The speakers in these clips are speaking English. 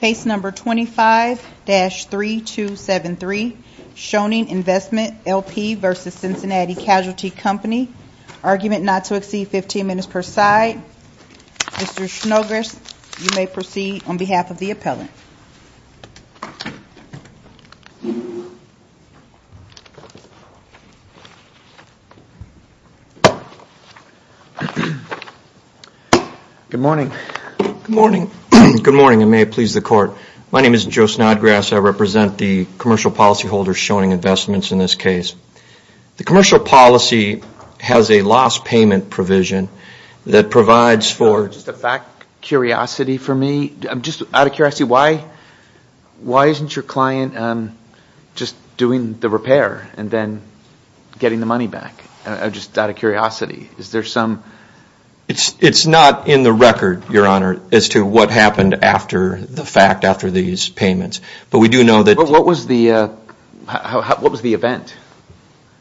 Case No. 25-3273, Schoening Investment LP v. Cincinnati Casualty Company. Argument not to exceed 15 minutes per side. Mr. Snogres, you may proceed on behalf of the appellant. Good morning. Good morning. Good morning and may it please the court. My name is Joe Snodgrass. I represent the commercial policy holder Schoening Investments in this case. The commercial policy has a loss payment provision that provides for... Just out of curiosity, why isn't your client just doing the repair and then getting the money back, just out of curiosity? It's not in the record, Your Honor, as to what happened after the fact, after these payments. But we do know that... What was the event?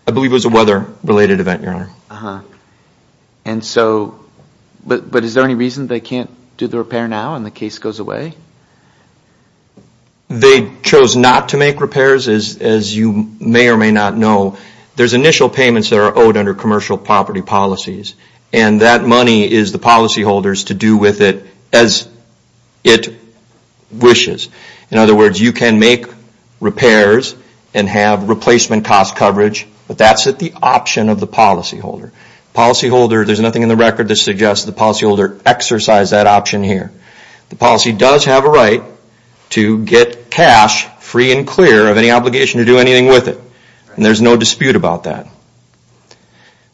I believe it was a weather-related event, Your Honor. Uh-huh. But is there any reason they can't do the repair now and the case goes away? They chose not to make repairs, as you may or may not know. There's initial payments that are owed under commercial property policies, and that money is the policy holder's to do with it as it wishes. In other words, you can make repairs and have replacement cost coverage, but that's at the option of the policy holder. The policy holder, there's nothing in the record that suggests the policy holder exercised that option here. The policy does have a right to get cash free and clear of any obligation to do anything with it, and there's no dispute about that.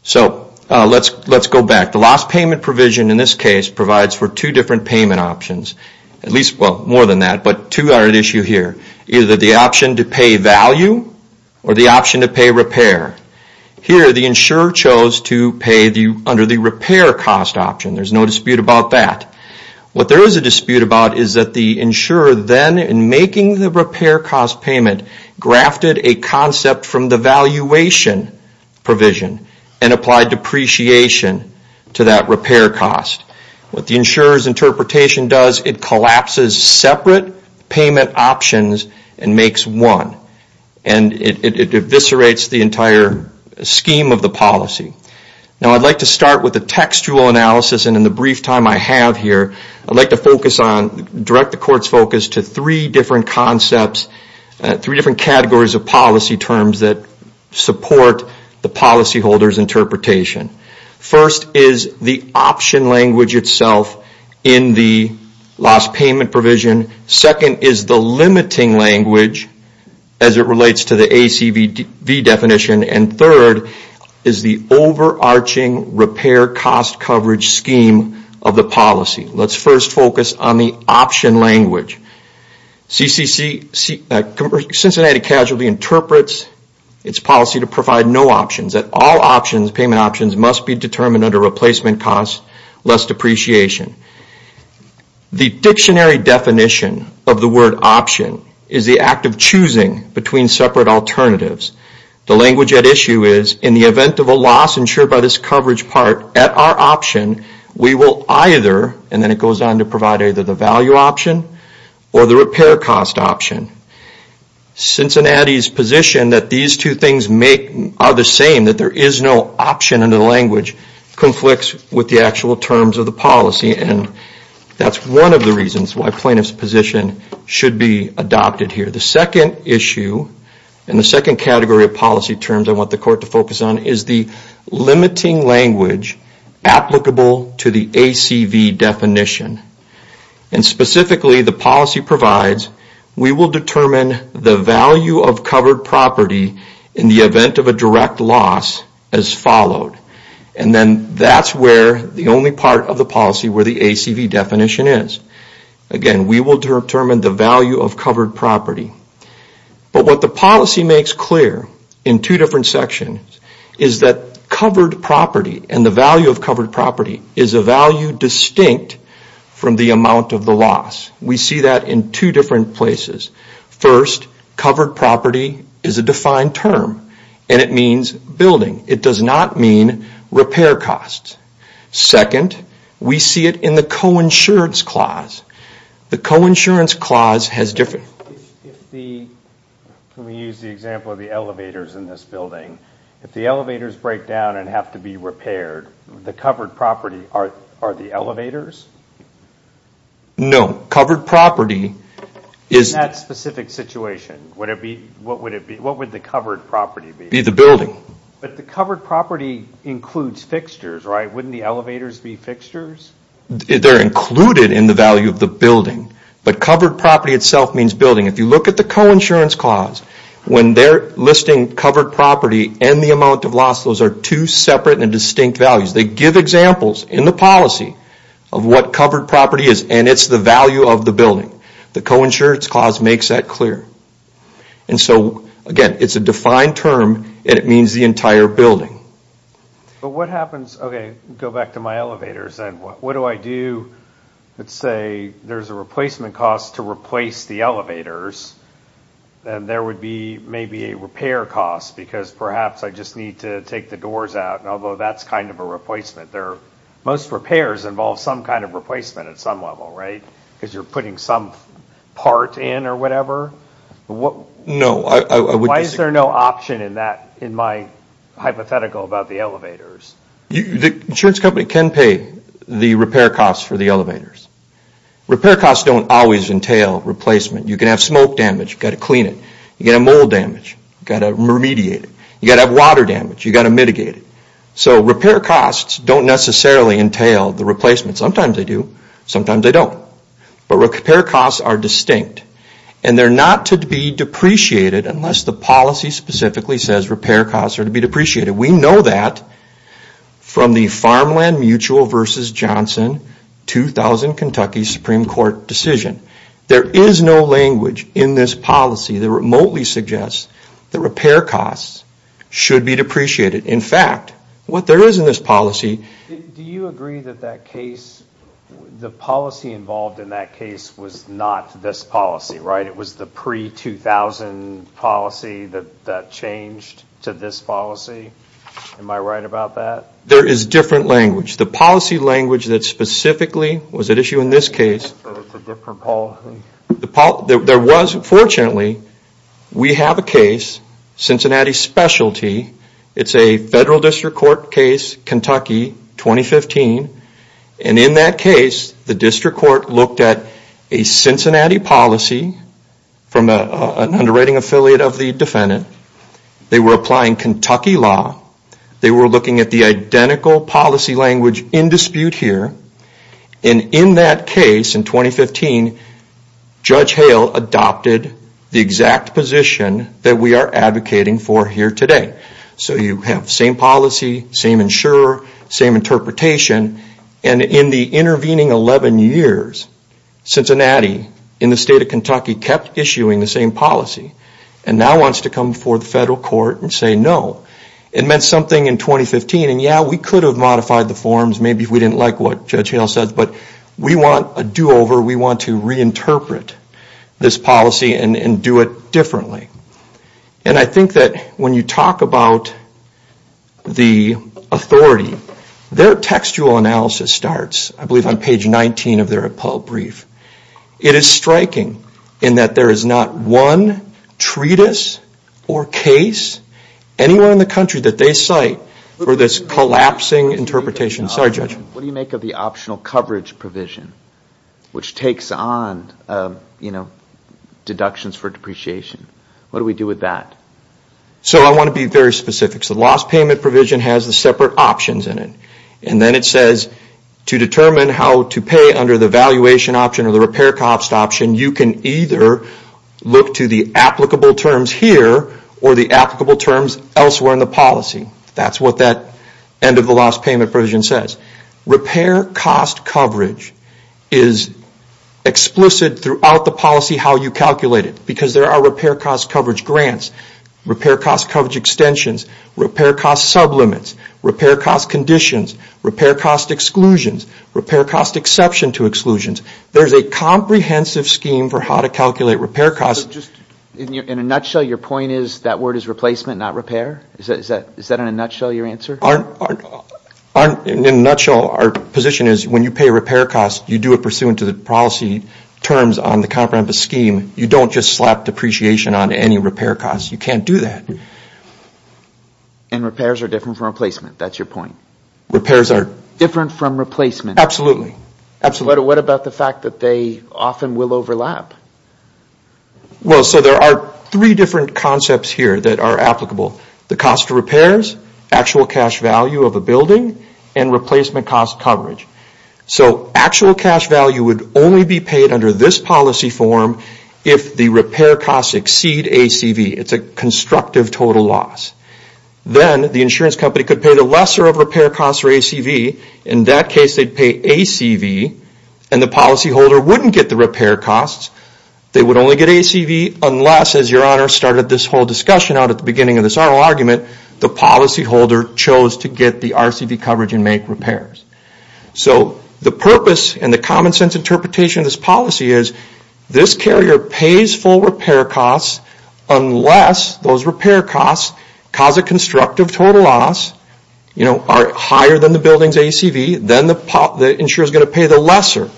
So, let's go back. The loss payment provision in this case provides for two different payment options, at least, well, more than that, but two are at issue here. Either the option to pay value or the option to pay repair. Here, the insurer chose to pay under the repair cost option. There's no dispute about that. What there is a dispute about is that the insurer then, in making the repair cost payment, grafted a concept from the valuation provision and applied depreciation to that repair cost. What the insurer's interpretation does, it collapses separate payment options and makes one. And it eviscerates the entire scheme of the policy. Now, I'd like to start with a textual analysis, and in the brief time I have here, I'd like to focus on, direct the court's focus to three different concepts, three different categories of policy terms that support the policy holder's interpretation. First is the option language itself in the loss payment provision. Second is the limiting language as it relates to the ACV definition. And third is the overarching repair cost coverage scheme of the policy. Let's first focus on the option language. CCC, Cincinnati Casualty, interprets its policy to provide no options. That all options, payment options, must be determined under replacement cost, less depreciation. The dictionary definition of the word option is the act of choosing between separate alternatives. The language at issue is, in the event of a loss insured by this coverage part at our option, we will either, and then it goes on to provide either the value option or the repair cost option. Cincinnati's position that these two things are the same, that there is no option in the language, conflicts with the actual terms of the policy, and that's one of the reasons why plaintiff's position should be adopted here. The second issue, and the second category of policy terms I want the court to focus on, is the limiting language applicable to the ACV definition. And specifically, the policy provides, we will determine the value of covered property in the event of a direct loss as followed. And then that's where the only part of the policy where the ACV definition is. Again, we will determine the value of covered property. But what the policy makes clear in two different sections is that covered property and the value of covered property is a value distinct from the amount of the loss. We see that in two different places. First, covered property is a defined term, and it means building. It does not mean repair costs. Second, we see it in the coinsurance clause. The coinsurance clause has different... Let me use the example of the elevators in this building. If the elevators break down and have to be repaired, the covered property are the elevators? No. Covered property is... In that specific situation, what would the covered property be? Be the building. But the covered property includes fixtures, right? Wouldn't the elevators be fixtures? They're included in the value of the building. But covered property itself means building. If you look at the coinsurance clause, when they're listing covered property and the amount of loss, those are two separate and distinct values. They give examples in the policy of what covered property is, and it's the value of the building. The coinsurance clause makes that clear. And so, again, it's a defined term, and it means the entire building. But what happens... Okay, go back to my elevators then. What do I do? Let's say there's a replacement cost to replace the elevators, and there would be maybe a repair cost because perhaps I just need to take the doors out, although that's kind of a replacement. Most repairs involve some kind of replacement at some level, right? Because you're putting some part in or whatever? No. Why is there no option in my hypothetical about the elevators? The insurance company can pay the repair costs for the elevators. Repair costs don't always entail replacement. You can have smoke damage. You've got to clean it. You've got to mold damage. You've got to remediate it. You've got to have water damage. You've got to mitigate it. So repair costs don't necessarily entail the replacement. Sometimes they do. Sometimes they don't. But repair costs are distinct, and they're not to be depreciated unless the policy specifically says repair costs are to be depreciated. We know that from the Farmland Mutual versus Johnson 2000 Kentucky Supreme Court decision. There is no language in this policy that remotely suggests that repair costs should be depreciated. In fact, what there is in this policy... Do you agree that that case, the policy involved in that case was not this policy, right? It was the pre-2000 policy that changed to this policy. Am I right about that? There is different language. The policy language that specifically was at issue in this case... So it's a different policy? Fortunately, we have a case, Cincinnati Specialty. It's a federal district court case, Kentucky, 2015. And in that case, the district court looked at a Cincinnati policy from an underwriting affiliate of the defendant. They were applying Kentucky law. They were looking at the identical policy language in dispute here. And in that case, in 2015, Judge Hale adopted the exact position that we are advocating for here today. So you have the same policy, same insurer, same interpretation. And in the intervening 11 years, Cincinnati, in the state of Kentucky, kept issuing the same policy. And now wants to come before the federal court and say no. It meant something in 2015. And yeah, we could have modified the forms. Maybe we didn't like what Judge Hale said. But we want a do-over. We want to reinterpret this policy and do it differently. And I think that when you talk about the authority, their textual analysis starts, I believe, on page 19 of their appellate brief. It is striking in that there is not one treatise or case anywhere in the country that they cite for this collapsing interpretation. Sorry, Judge. What do you make of the optional coverage provision which takes on deductions for depreciation? What do we do with that? So I want to be very specific. The loss payment provision has the separate options in it. And then it says to determine how to pay under the valuation option or the repair cost option, you can either look to the applicable terms here or the applicable terms elsewhere in the policy. That is what that end of the loss payment provision says. Repair cost coverage is explicit throughout the policy how you calculate it, because there are repair cost coverage grants, repair cost coverage extensions, repair cost sublimits, repair cost conditions, repair cost exclusions, repair cost exception to exclusions. There is a comprehensive scheme for how to calculate repair costs. In a nutshell, your point is that word is replacement, not repair? Is that in a nutshell your answer? In a nutshell, our position is when you pay repair costs, you do it pursuant to the policy terms on the comprehensive scheme. You don't just slap depreciation on any repair costs. You can't do that. And repairs are different from replacement? That's your point? Repairs are... Different from replacement? Absolutely. What about the fact that they often will overlap? Well, so there are three different concepts here that are applicable. The cost of repairs, actual cash value of a building, and replacement cost coverage. So actual cash value would only be paid under this policy form if the repair costs exceed ACV. It's a constructive total loss. Then the insurance company could pay the lesser of repair costs for ACV. In that case, they'd pay ACV and the policyholder wouldn't get the repair costs. They would only get ACV unless, as Your Honor started this whole discussion out at the beginning of this oral argument, the policyholder chose to get the RCV coverage and make repairs. So the purpose and the common sense interpretation of this policy is this carrier pays full repair costs unless those repair costs cause a constructive total loss higher than the building's ACV then the insurer is going to pay the lesser.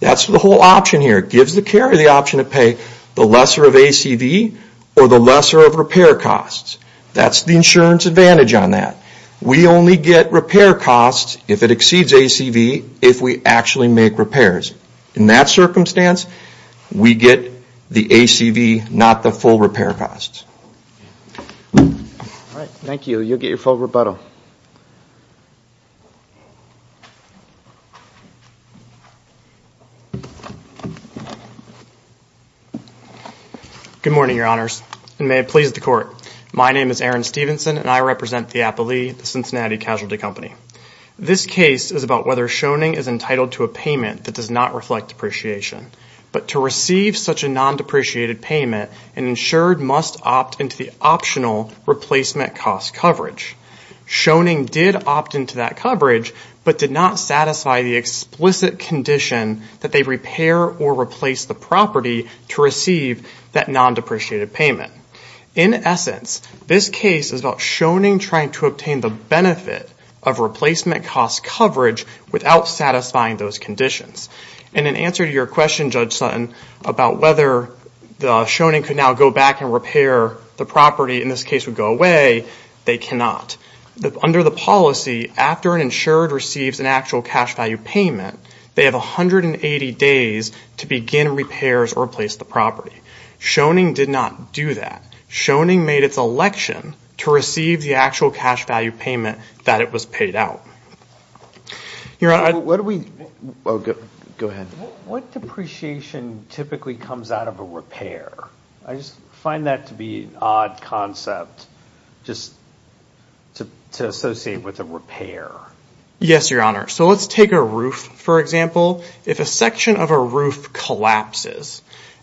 That's the whole option here. It gives the carrier the option to pay the lesser of ACV or the lesser of repair costs. That's the insurance advantage on that. We only get repair costs if it exceeds ACV if we actually make repairs. In that circumstance, we get the ACV not the full repair costs. Thank you. You'll get your full rebuttal. Good morning, Your Honors. And may it please the Court. My name is Aaron Stevenson and I represent the Appalee, the Cincinnati Casualty Company. This case is about whether Schoening is entitled to a payment that does not reflect depreciation. But to receive such a non-depreciated payment, an insured must opt into the optional replacement cost coverage. Schoening did opt into that coverage but did not satisfy the explicit condition that they repair or replace the property to receive that non-depreciated payment. In essence, this case is about Schoening trying to obtain the benefit of replacement cost coverage without satisfying those conditions. And in answer to your question, Judge Sutton, about whether Schoening could now go back and repair the property in this case would go away, they cannot. Under the policy, after an insured receives an actual cash value payment, they have 180 days to begin repairs or replace the property. Schoening did not do that. Schoening made its election to receive the actual cash value payment that it was paid out. What depreciation typically comes out of a repair? I just find that to be an odd concept just to associate with a repair. Yes, Your Honor. So let's take a roof, for example. If a section of a roof collapses,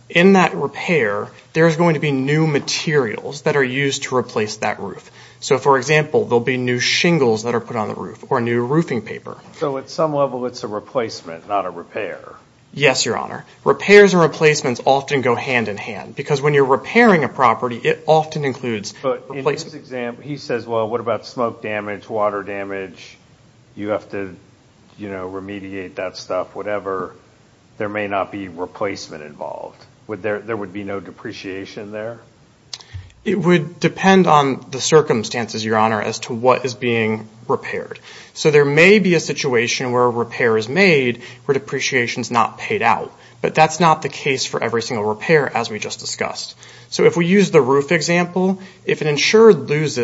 in that repair, there's going to be new materials that are used to replace that roof. So, for example, there'll be new shingles that are put on the roof or new roofing paper. So at some level it's a replacement, not a repair. Yes, Your Honor. Repairs and replacements often go hand in hand. Because when you're repairing a property, it often includes... But in this example, he says, well, what about smoke damage, water damage? You have to, you know, remediate that stuff, whatever. There may not be replacement involved. There would be no depreciation there? It would depend on the circumstances, as to what is being repaired. So there may be a situation where a repair is made where depreciation is not paid out. But that's not the case for every single repair as we just discussed. So if we use the roof example, if an insured has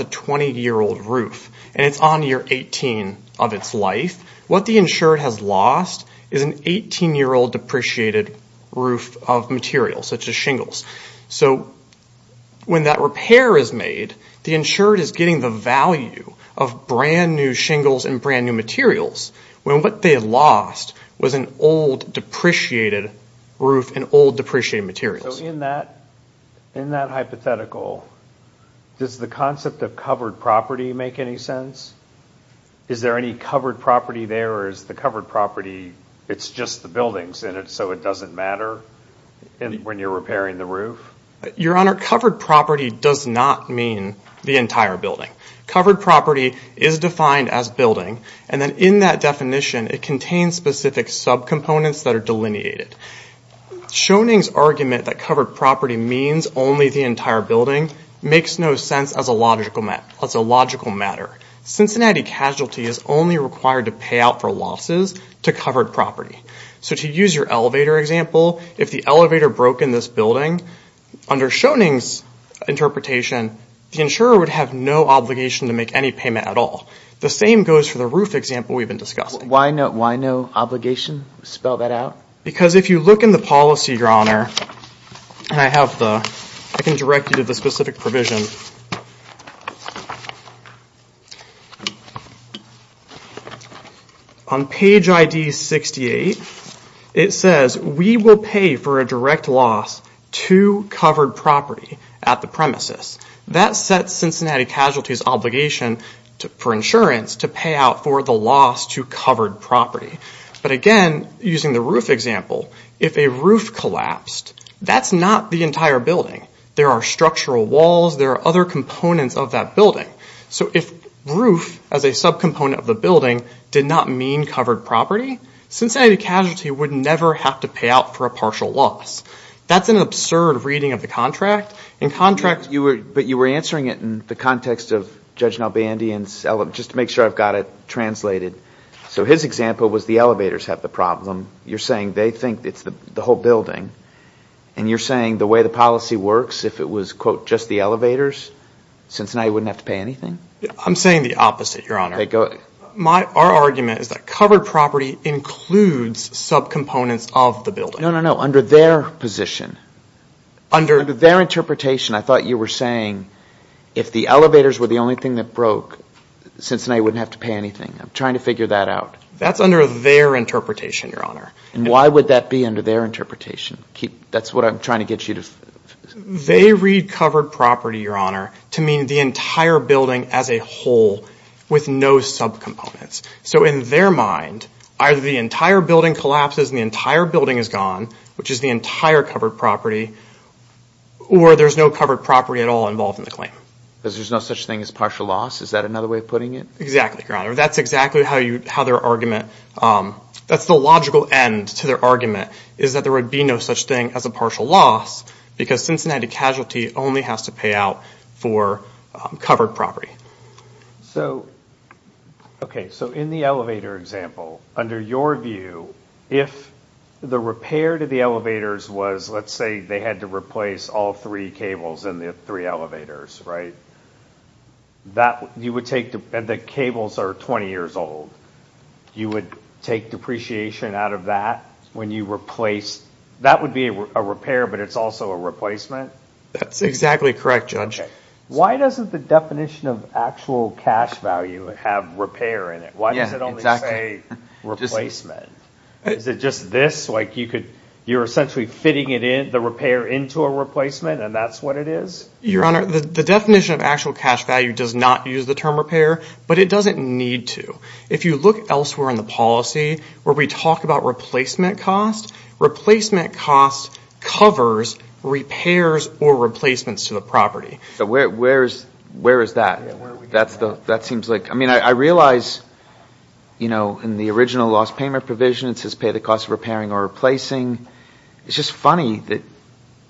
a 20-year-old roof and it's on year 18 of its life, what the insured has lost is an 18-year-old depreciated roof of material, such as shingles. So when that repair is made, the insured is getting the value of brand new shingles and brand new materials when what they lost was an old depreciated roof and old depreciated materials. So in that hypothetical, does the concept of covered property make any sense? Is there any covered property there or is the covered property it's just the buildings in it so it doesn't matter when you're repairing the roof? Your Honor, covered property does not mean the entire building. Covered property is defined as building and then in that definition it contains specific subcomponents that are delineated. Schoening's argument that covered property means only the entire building makes no sense as a logical matter. Cincinnati casualty is only required to pay out for losses to covered property. So to use your elevator example, if the elevator broke in this building under Schoening's interpretation the insurer would have no obligation to make any payment at all. The same goes for the roof example we've been discussing. Why no obligation? Spell that out. Because if you look in the policy, and I can direct you to the specific provision. On page ID 68 it says we will pay for a direct loss to covered property at the premises. That sets Cincinnati casualty's obligation for insurance to pay out for the loss to covered property. But again, using the roof example if a roof collapsed that's not the entire building. There are structural walls there are other components of that building. So if roof as a subcomponent of the building did not mean covered property Cincinnati casualty would never have to pay out for a partial loss. That's an absurd reading of the contract. But you were answering it in the context of Judge Nalbandian's just to make sure I've got it translated. So his example was the elevators have the problem. You're saying they think it's the whole building. And you're saying the way the policy works if it was quote just the elevators Cincinnati wouldn't have to pay anything? I'm saying the opposite, Your Honor. Our argument is that covered property includes subcomponents of the building. No, no, no. Under their position. Under their interpretation I thought you were saying if the elevators were the only thing that broke Cincinnati wouldn't have to pay anything. I'm trying to figure that out. That's under their interpretation, Your Honor. And why would that be under their interpretation? That's what I'm trying to get you to... They read covered property, Your Honor, to mean the entire building as a whole with no subcomponents. So in their mind either the entire building collapses and the entire building is gone which is the entire covered property or there's no covered property at all involved in the claim. Because there's no such thing as partial loss? Is that another way of putting it? Exactly, Your Honor. That's exactly how their argument that's the logical end to their argument is that there would be no such thing as a partial loss because Cincinnati casualty only has to pay out for covered property. So in the elevator example under your view if the repair to the elevators was let's say they had to replace all three cables in the three elevators, And the cables are 20 years old. You would take depreciation out of that when you replace... That would be a repair but it's also a replacement? That's exactly correct, Judge. Why doesn't the definition of actual cash value have repair in it? Why does it only say replacement? Is it just this? Like you could you're essentially fitting the repair into a replacement and that's what it is? Your Honor, the definition of actual cash value does not use the term repair but it doesn't need to. If you look elsewhere in the policy where we talk about replacement cost, replacement cost covers repairs or replacements to the property. Where is that? That seems like... I mean I realize you know in the original lost payment provision it says pay the cost of repairing or replacing. It's just funny that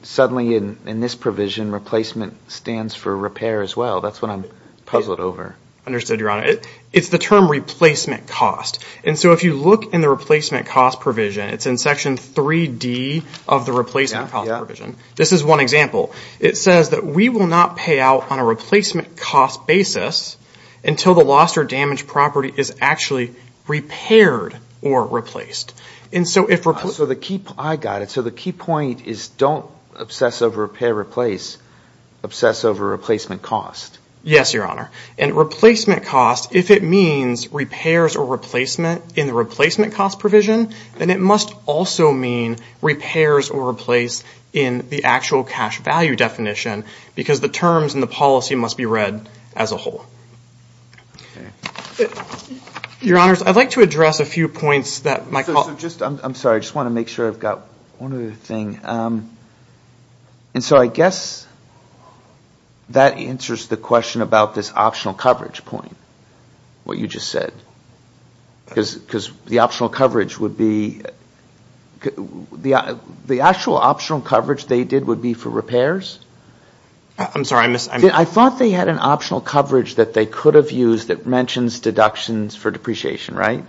suddenly in this provision replacement stands for repair as well. That's what I'm puzzled over. Understood, Your Honor. It's the term replacement cost and so if you look in the replacement cost provision it's in Section 3D of the replacement cost provision. This is one example. It says that we will not pay out on a replacement cost basis until the lost or damaged property is actually repaired or replaced. And so if... I got it. So the key point is don't obsess over repair, replace obsess over replacement cost. Yes, Your Honor. And replacement cost if it means repairs or replacement in the replacement cost provision then it must also mean repairs or replace in the actual cash value definition because the terms and the policy must be read as a whole. Your Honors, I'd like to address a few points that Michael... I'm sorry. I just want to make sure I've got one other thing. And so I guess that answers the question about this optional coverage point what you just said because the optional coverage would be the actual optional coverage they did would be for repairs? I'm sorry. I thought they had an optional coverage that they could have used that mentions deductions for depreciation, right?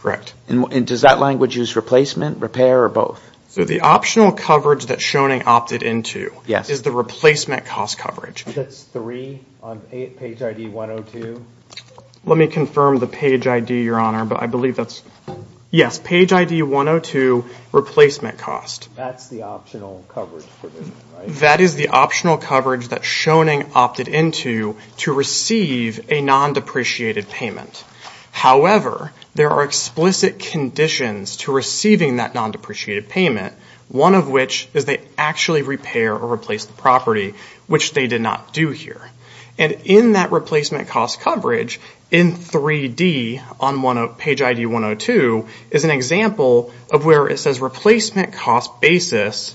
Correct. And does that language use replacement, or both? So the optional coverage that Shoning opted into is the replacement cost coverage. That's three on page ID 102? Let me confirm the page ID, but I believe that's yes, page ID 102 replacement cost. That's the optional coverage for this, right? That is the optional coverage that Shoning opted into to receive a non-depreciated payment. However, there are explicit conditions to receiving that non-depreciated payment, one of which is they actually repair or replace the property, which they did not do here. And in that replacement cost coverage, in 3D on page ID 102 is an example of where it says replacement cost basis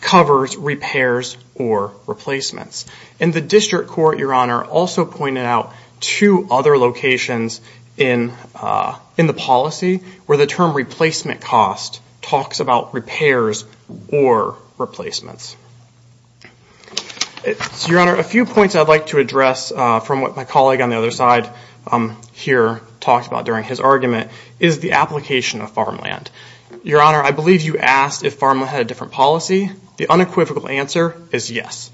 covers repairs or replacements. And the district court, Your Honor, also pointed out two other locations in the policy where the term replacement cost talks about repairs or replacements. Your Honor, a few points I'd like to address from what my colleague on the other side here talked about during his argument is the application of farmland. Your Honor, I believe you asked if farmland had a different policy. The unequivocal answer is yes.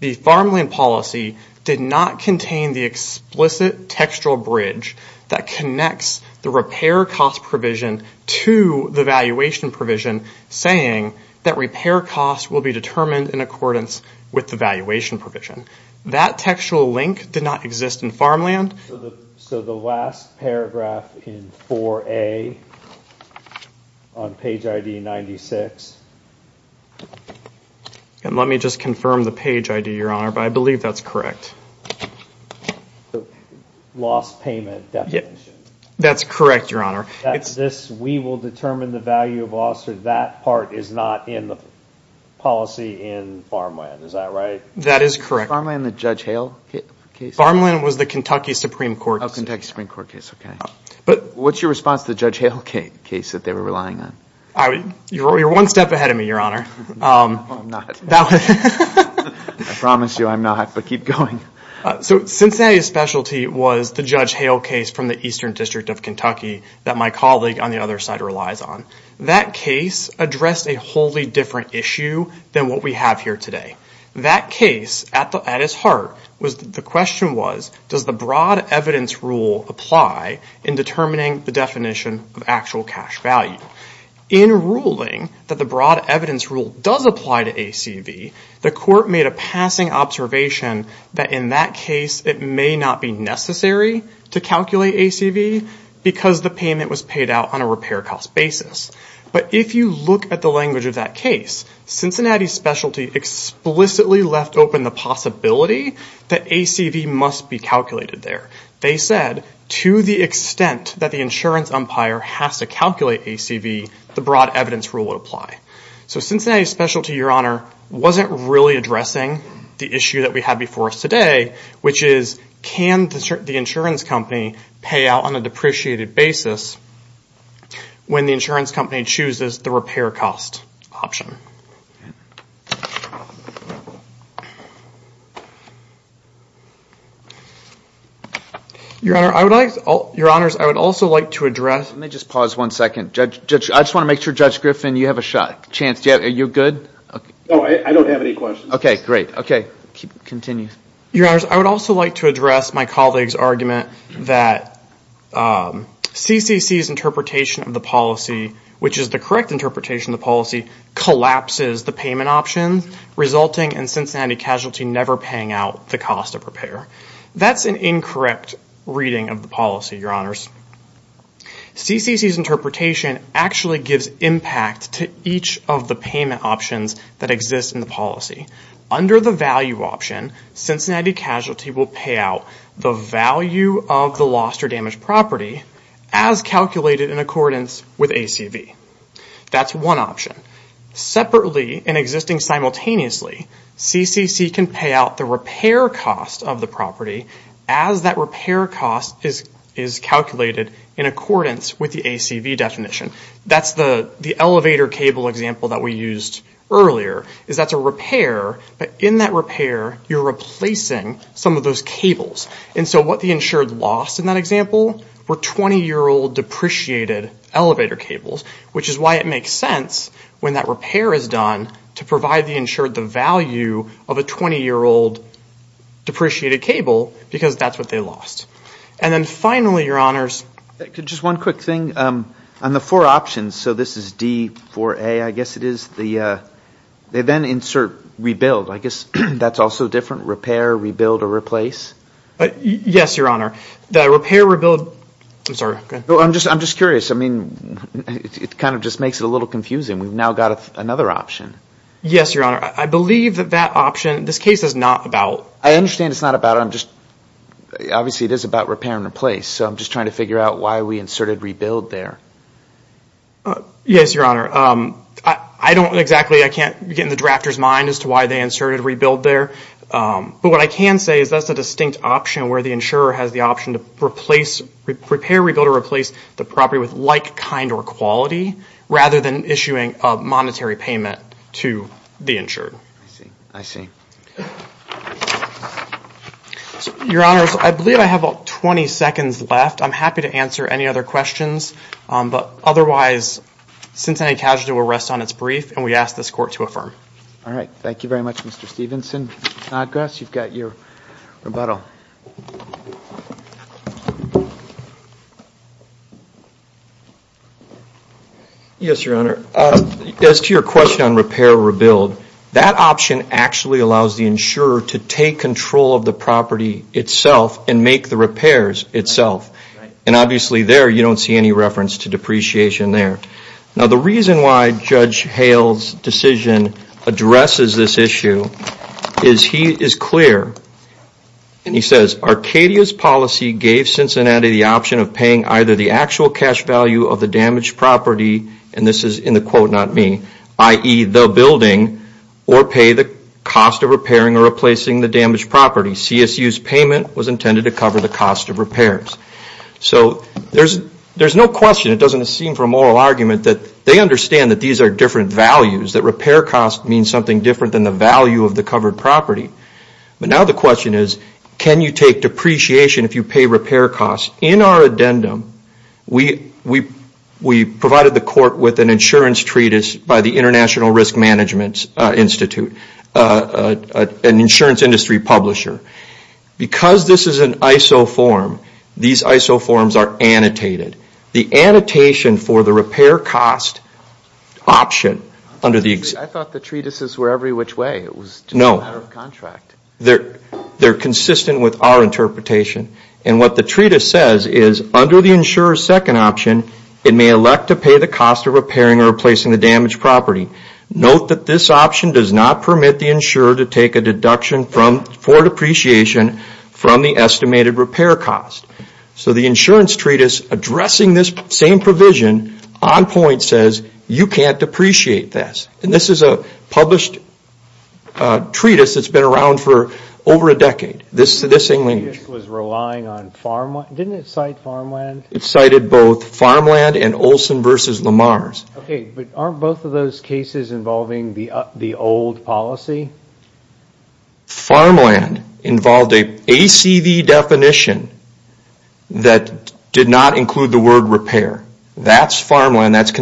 The farmland policy did not contain the explicit textual bridge that connects the repair cost provision to the policy determined in accordance with the valuation provision. That textual link did not exist in farmland. So the last paragraph in 4A on page ID 96 And let me just confirm the page ID, Your Honor, but I believe that's correct. loss payment definition. That's correct, Your Honor. That this we will determine the value of loss that part is not in the policy in farmland. Is that right? That is correct. the Judge Hale case? Farmland was the Kentucky Supreme Court case. What's your response to the Judge Hale case that they were relying on? You're one step ahead of me, I'm not. I promise you I'm not, but keep going. So Cincinnati's specialty was the Judge Hale case from the Eastern District of Kentucky that my colleague on the other side relies on. That case addressed a wholly different issue than what we have here today. That case at its heart was the question was does the broad evidence rule apply in determining the definition of actual cash value? In ruling that the broad evidence rule does apply to ACV the court made a passing observation that in that case it may not be necessary to calculate ACV because the payment was paid out on a repair cost basis. But if you look at the language of that case Cincinnati's specialty explicitly left open the possibility that ACV must be calculated there. They said to the extent that the insurance umpire has to calculate ACV the broad evidence rule would apply. So Cincinnati's wasn't really asking company pay out on a depreciated basis when the insurance company chooses the repair cost option. Your honor I would like your honors I would also like to address Let me just pause one second. Judge I just want to make sure Judge Griffin you have a chance are you good? I don't have any questions. Okay great. Continue. I would also like to address my colleagues argument that CCC's interpretation of the policy which is the correct interpretation of the policy collapses the payment option resulting in Cincinnati casualty never paying out the cost of repair. That's an incorrect reading of the payment options that exist in the policy. Under the value option Cincinnati casualty will pay out the value of the lost or property as calculated in accordance with ACV. That's one option. Separately and existing simultaneously CCC can pay out the repair cost of the as that repair cost is calculated in accordance with the ACV definition. That's the elevator cable example that we used earlier is that's a repair but in that repair you're replacing some of those cables. So what the insured lost in that example were 20-year-old depreciated elevator cables which is why it makes sense when that repair is done to provide the insured the value of a 20-year-old depreciated cable because that's what they lost. And then finally your honors Just one quick thing on the four options so this is D4A I guess it is they then insert rebuild I guess that's also different repair rebuild or replace Yes your honor the repair rebuild I'm sorry I'm just curious I mean it kind of just makes it a little confusing we've now got another option Yes your honor I believe that that option this case is not about I understand it's not about I'm just obviously it is about repair and replace so I'm just trying to figure out why we inserted rebuild there Yes your honor I don't exactly I can't get in the drafter's mind as to why they inserted rebuild there but what I can say is that's a distinct option where the insurer has the option to replace repair rebuild or replace the property with like kind or quality rather than issuing a monetary payment to the insured I see I see Your honors I believe I have about 20 seconds left I'm happy to answer any other questions but otherwise Cincinnati Casualty will rest on its brief and we ask this court to affirm All right thank you very much Mr. Stevenson Gus you've got your Yes your honor as to your question on repair rebuild that option actually allows the insurer to take control of the property itself and make the repairs itself and obviously there you don't see any reference to depreciation there now the reason why Judge Hale's addresses this issue is he is clear and he says Arcadia's policy gave Cincinnati the option of paying either the actual cash value of the damaged property and this option so there's no question it doesn't seem for a moral argument that they understand that these are different values that repair costs mean something different than the value of the covered property but now the question is can you take depreciation if you pay repair costs in our we provided the court with an treatise by the international risk management institute an insurance industry publisher because this is an isoform these isoforms are annotated the annotation for the repair cost option under the I thought the treatises were every which way no they're consistent with our interpretation and what the treatise says is under the insurer's second option it may elect to pay the cost of or replacing the damaged property note that this option does not permit the insurer to take a deduction for depreciation from the estimated repair cost so the insurance treatise addressing this same provision on point says you can't depreciate this and this is a published treatise that's been around for over a this English was relying on farmland didn't it cite farmland it cited both farmland and Olson vs. Lamar's aren't both of those cases involving the old policy farmland involved a ACV definition that did not include the word repair that's farmland that's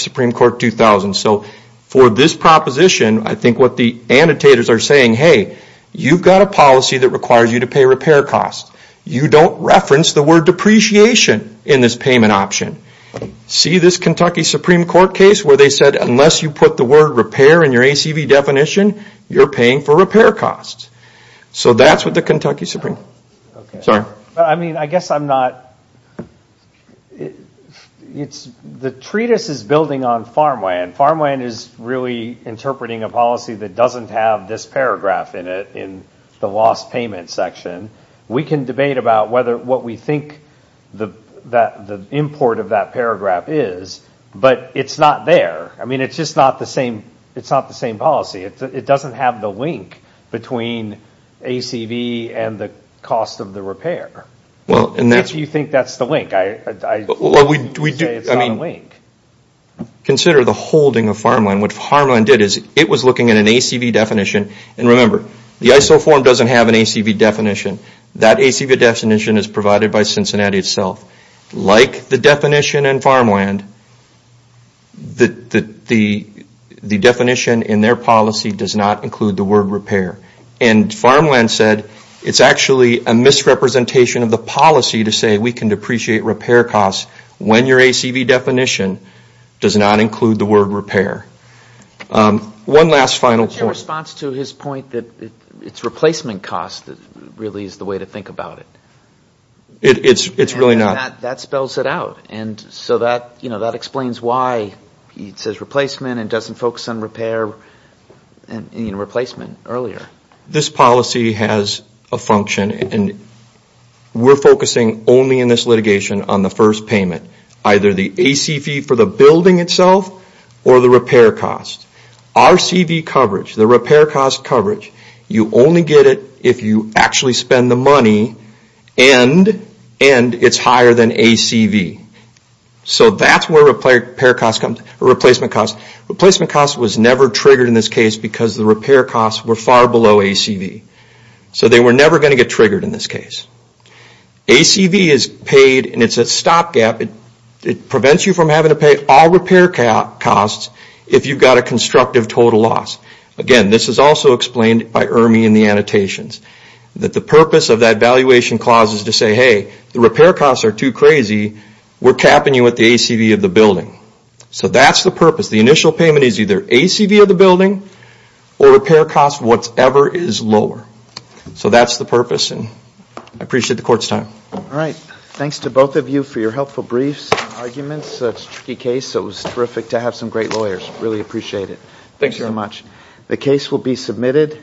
Supreme Court 2000 so for this proposition I think what the annotators are saying hey you've got a policy that requires you to pay repair cost you don't reference the word depreciation in this payment option see this Kentucky Supreme Court case where they said unless you put the word repair in your ACV definition you're paying for repair costs so that's what the Kentucky Supreme I guess I'm not the treatise is building on farmland farmland is really interpreting a policy that doesn't have this paragraph in it in the lost payment section we can debate about what we think the import of that paragraph is but it's not there I mean it's just not the same it's not the same policy it doesn't have the link between ACV and the cost of the repair if you think that's the link consider the holding of farmland what farmland did is it was looking at an ACV definition and remember the ISO form doesn't have an ACV definition that ACV definition is provided by Cincinnati itself like the definition in farmland the the in their policy does not include the word repair and farmland said it's actually a misrepresentation of the policy to say we can depreciate repair cost when your ACV definition does not include the repair one last final point replacement cost really is the way to think about it that spells it out that explains why it doesn't focus on repair and replacement earlier this policy has a function and we're focusing only in this litigation on the first payment either the ACV for the building itself or the repair cost RCV coverage the repair cost coverage you only get it if you actually spend the ACV they were never going to get triggered ACV is a stop gap it prevents you from having to all repair costs if you have a constructive total loss again this is also explained by Ermey in the annotations that the purpose of that valuation clause is to say hey the repair costs are too crazy we're capping you with the ACV of the building so that's the purpose and I appreciate the court's time all right thanks to both of you for your helpful briefs it's a tricky case it was terrific to have some great lawyers really appreciate it thank you so much the case will be submitted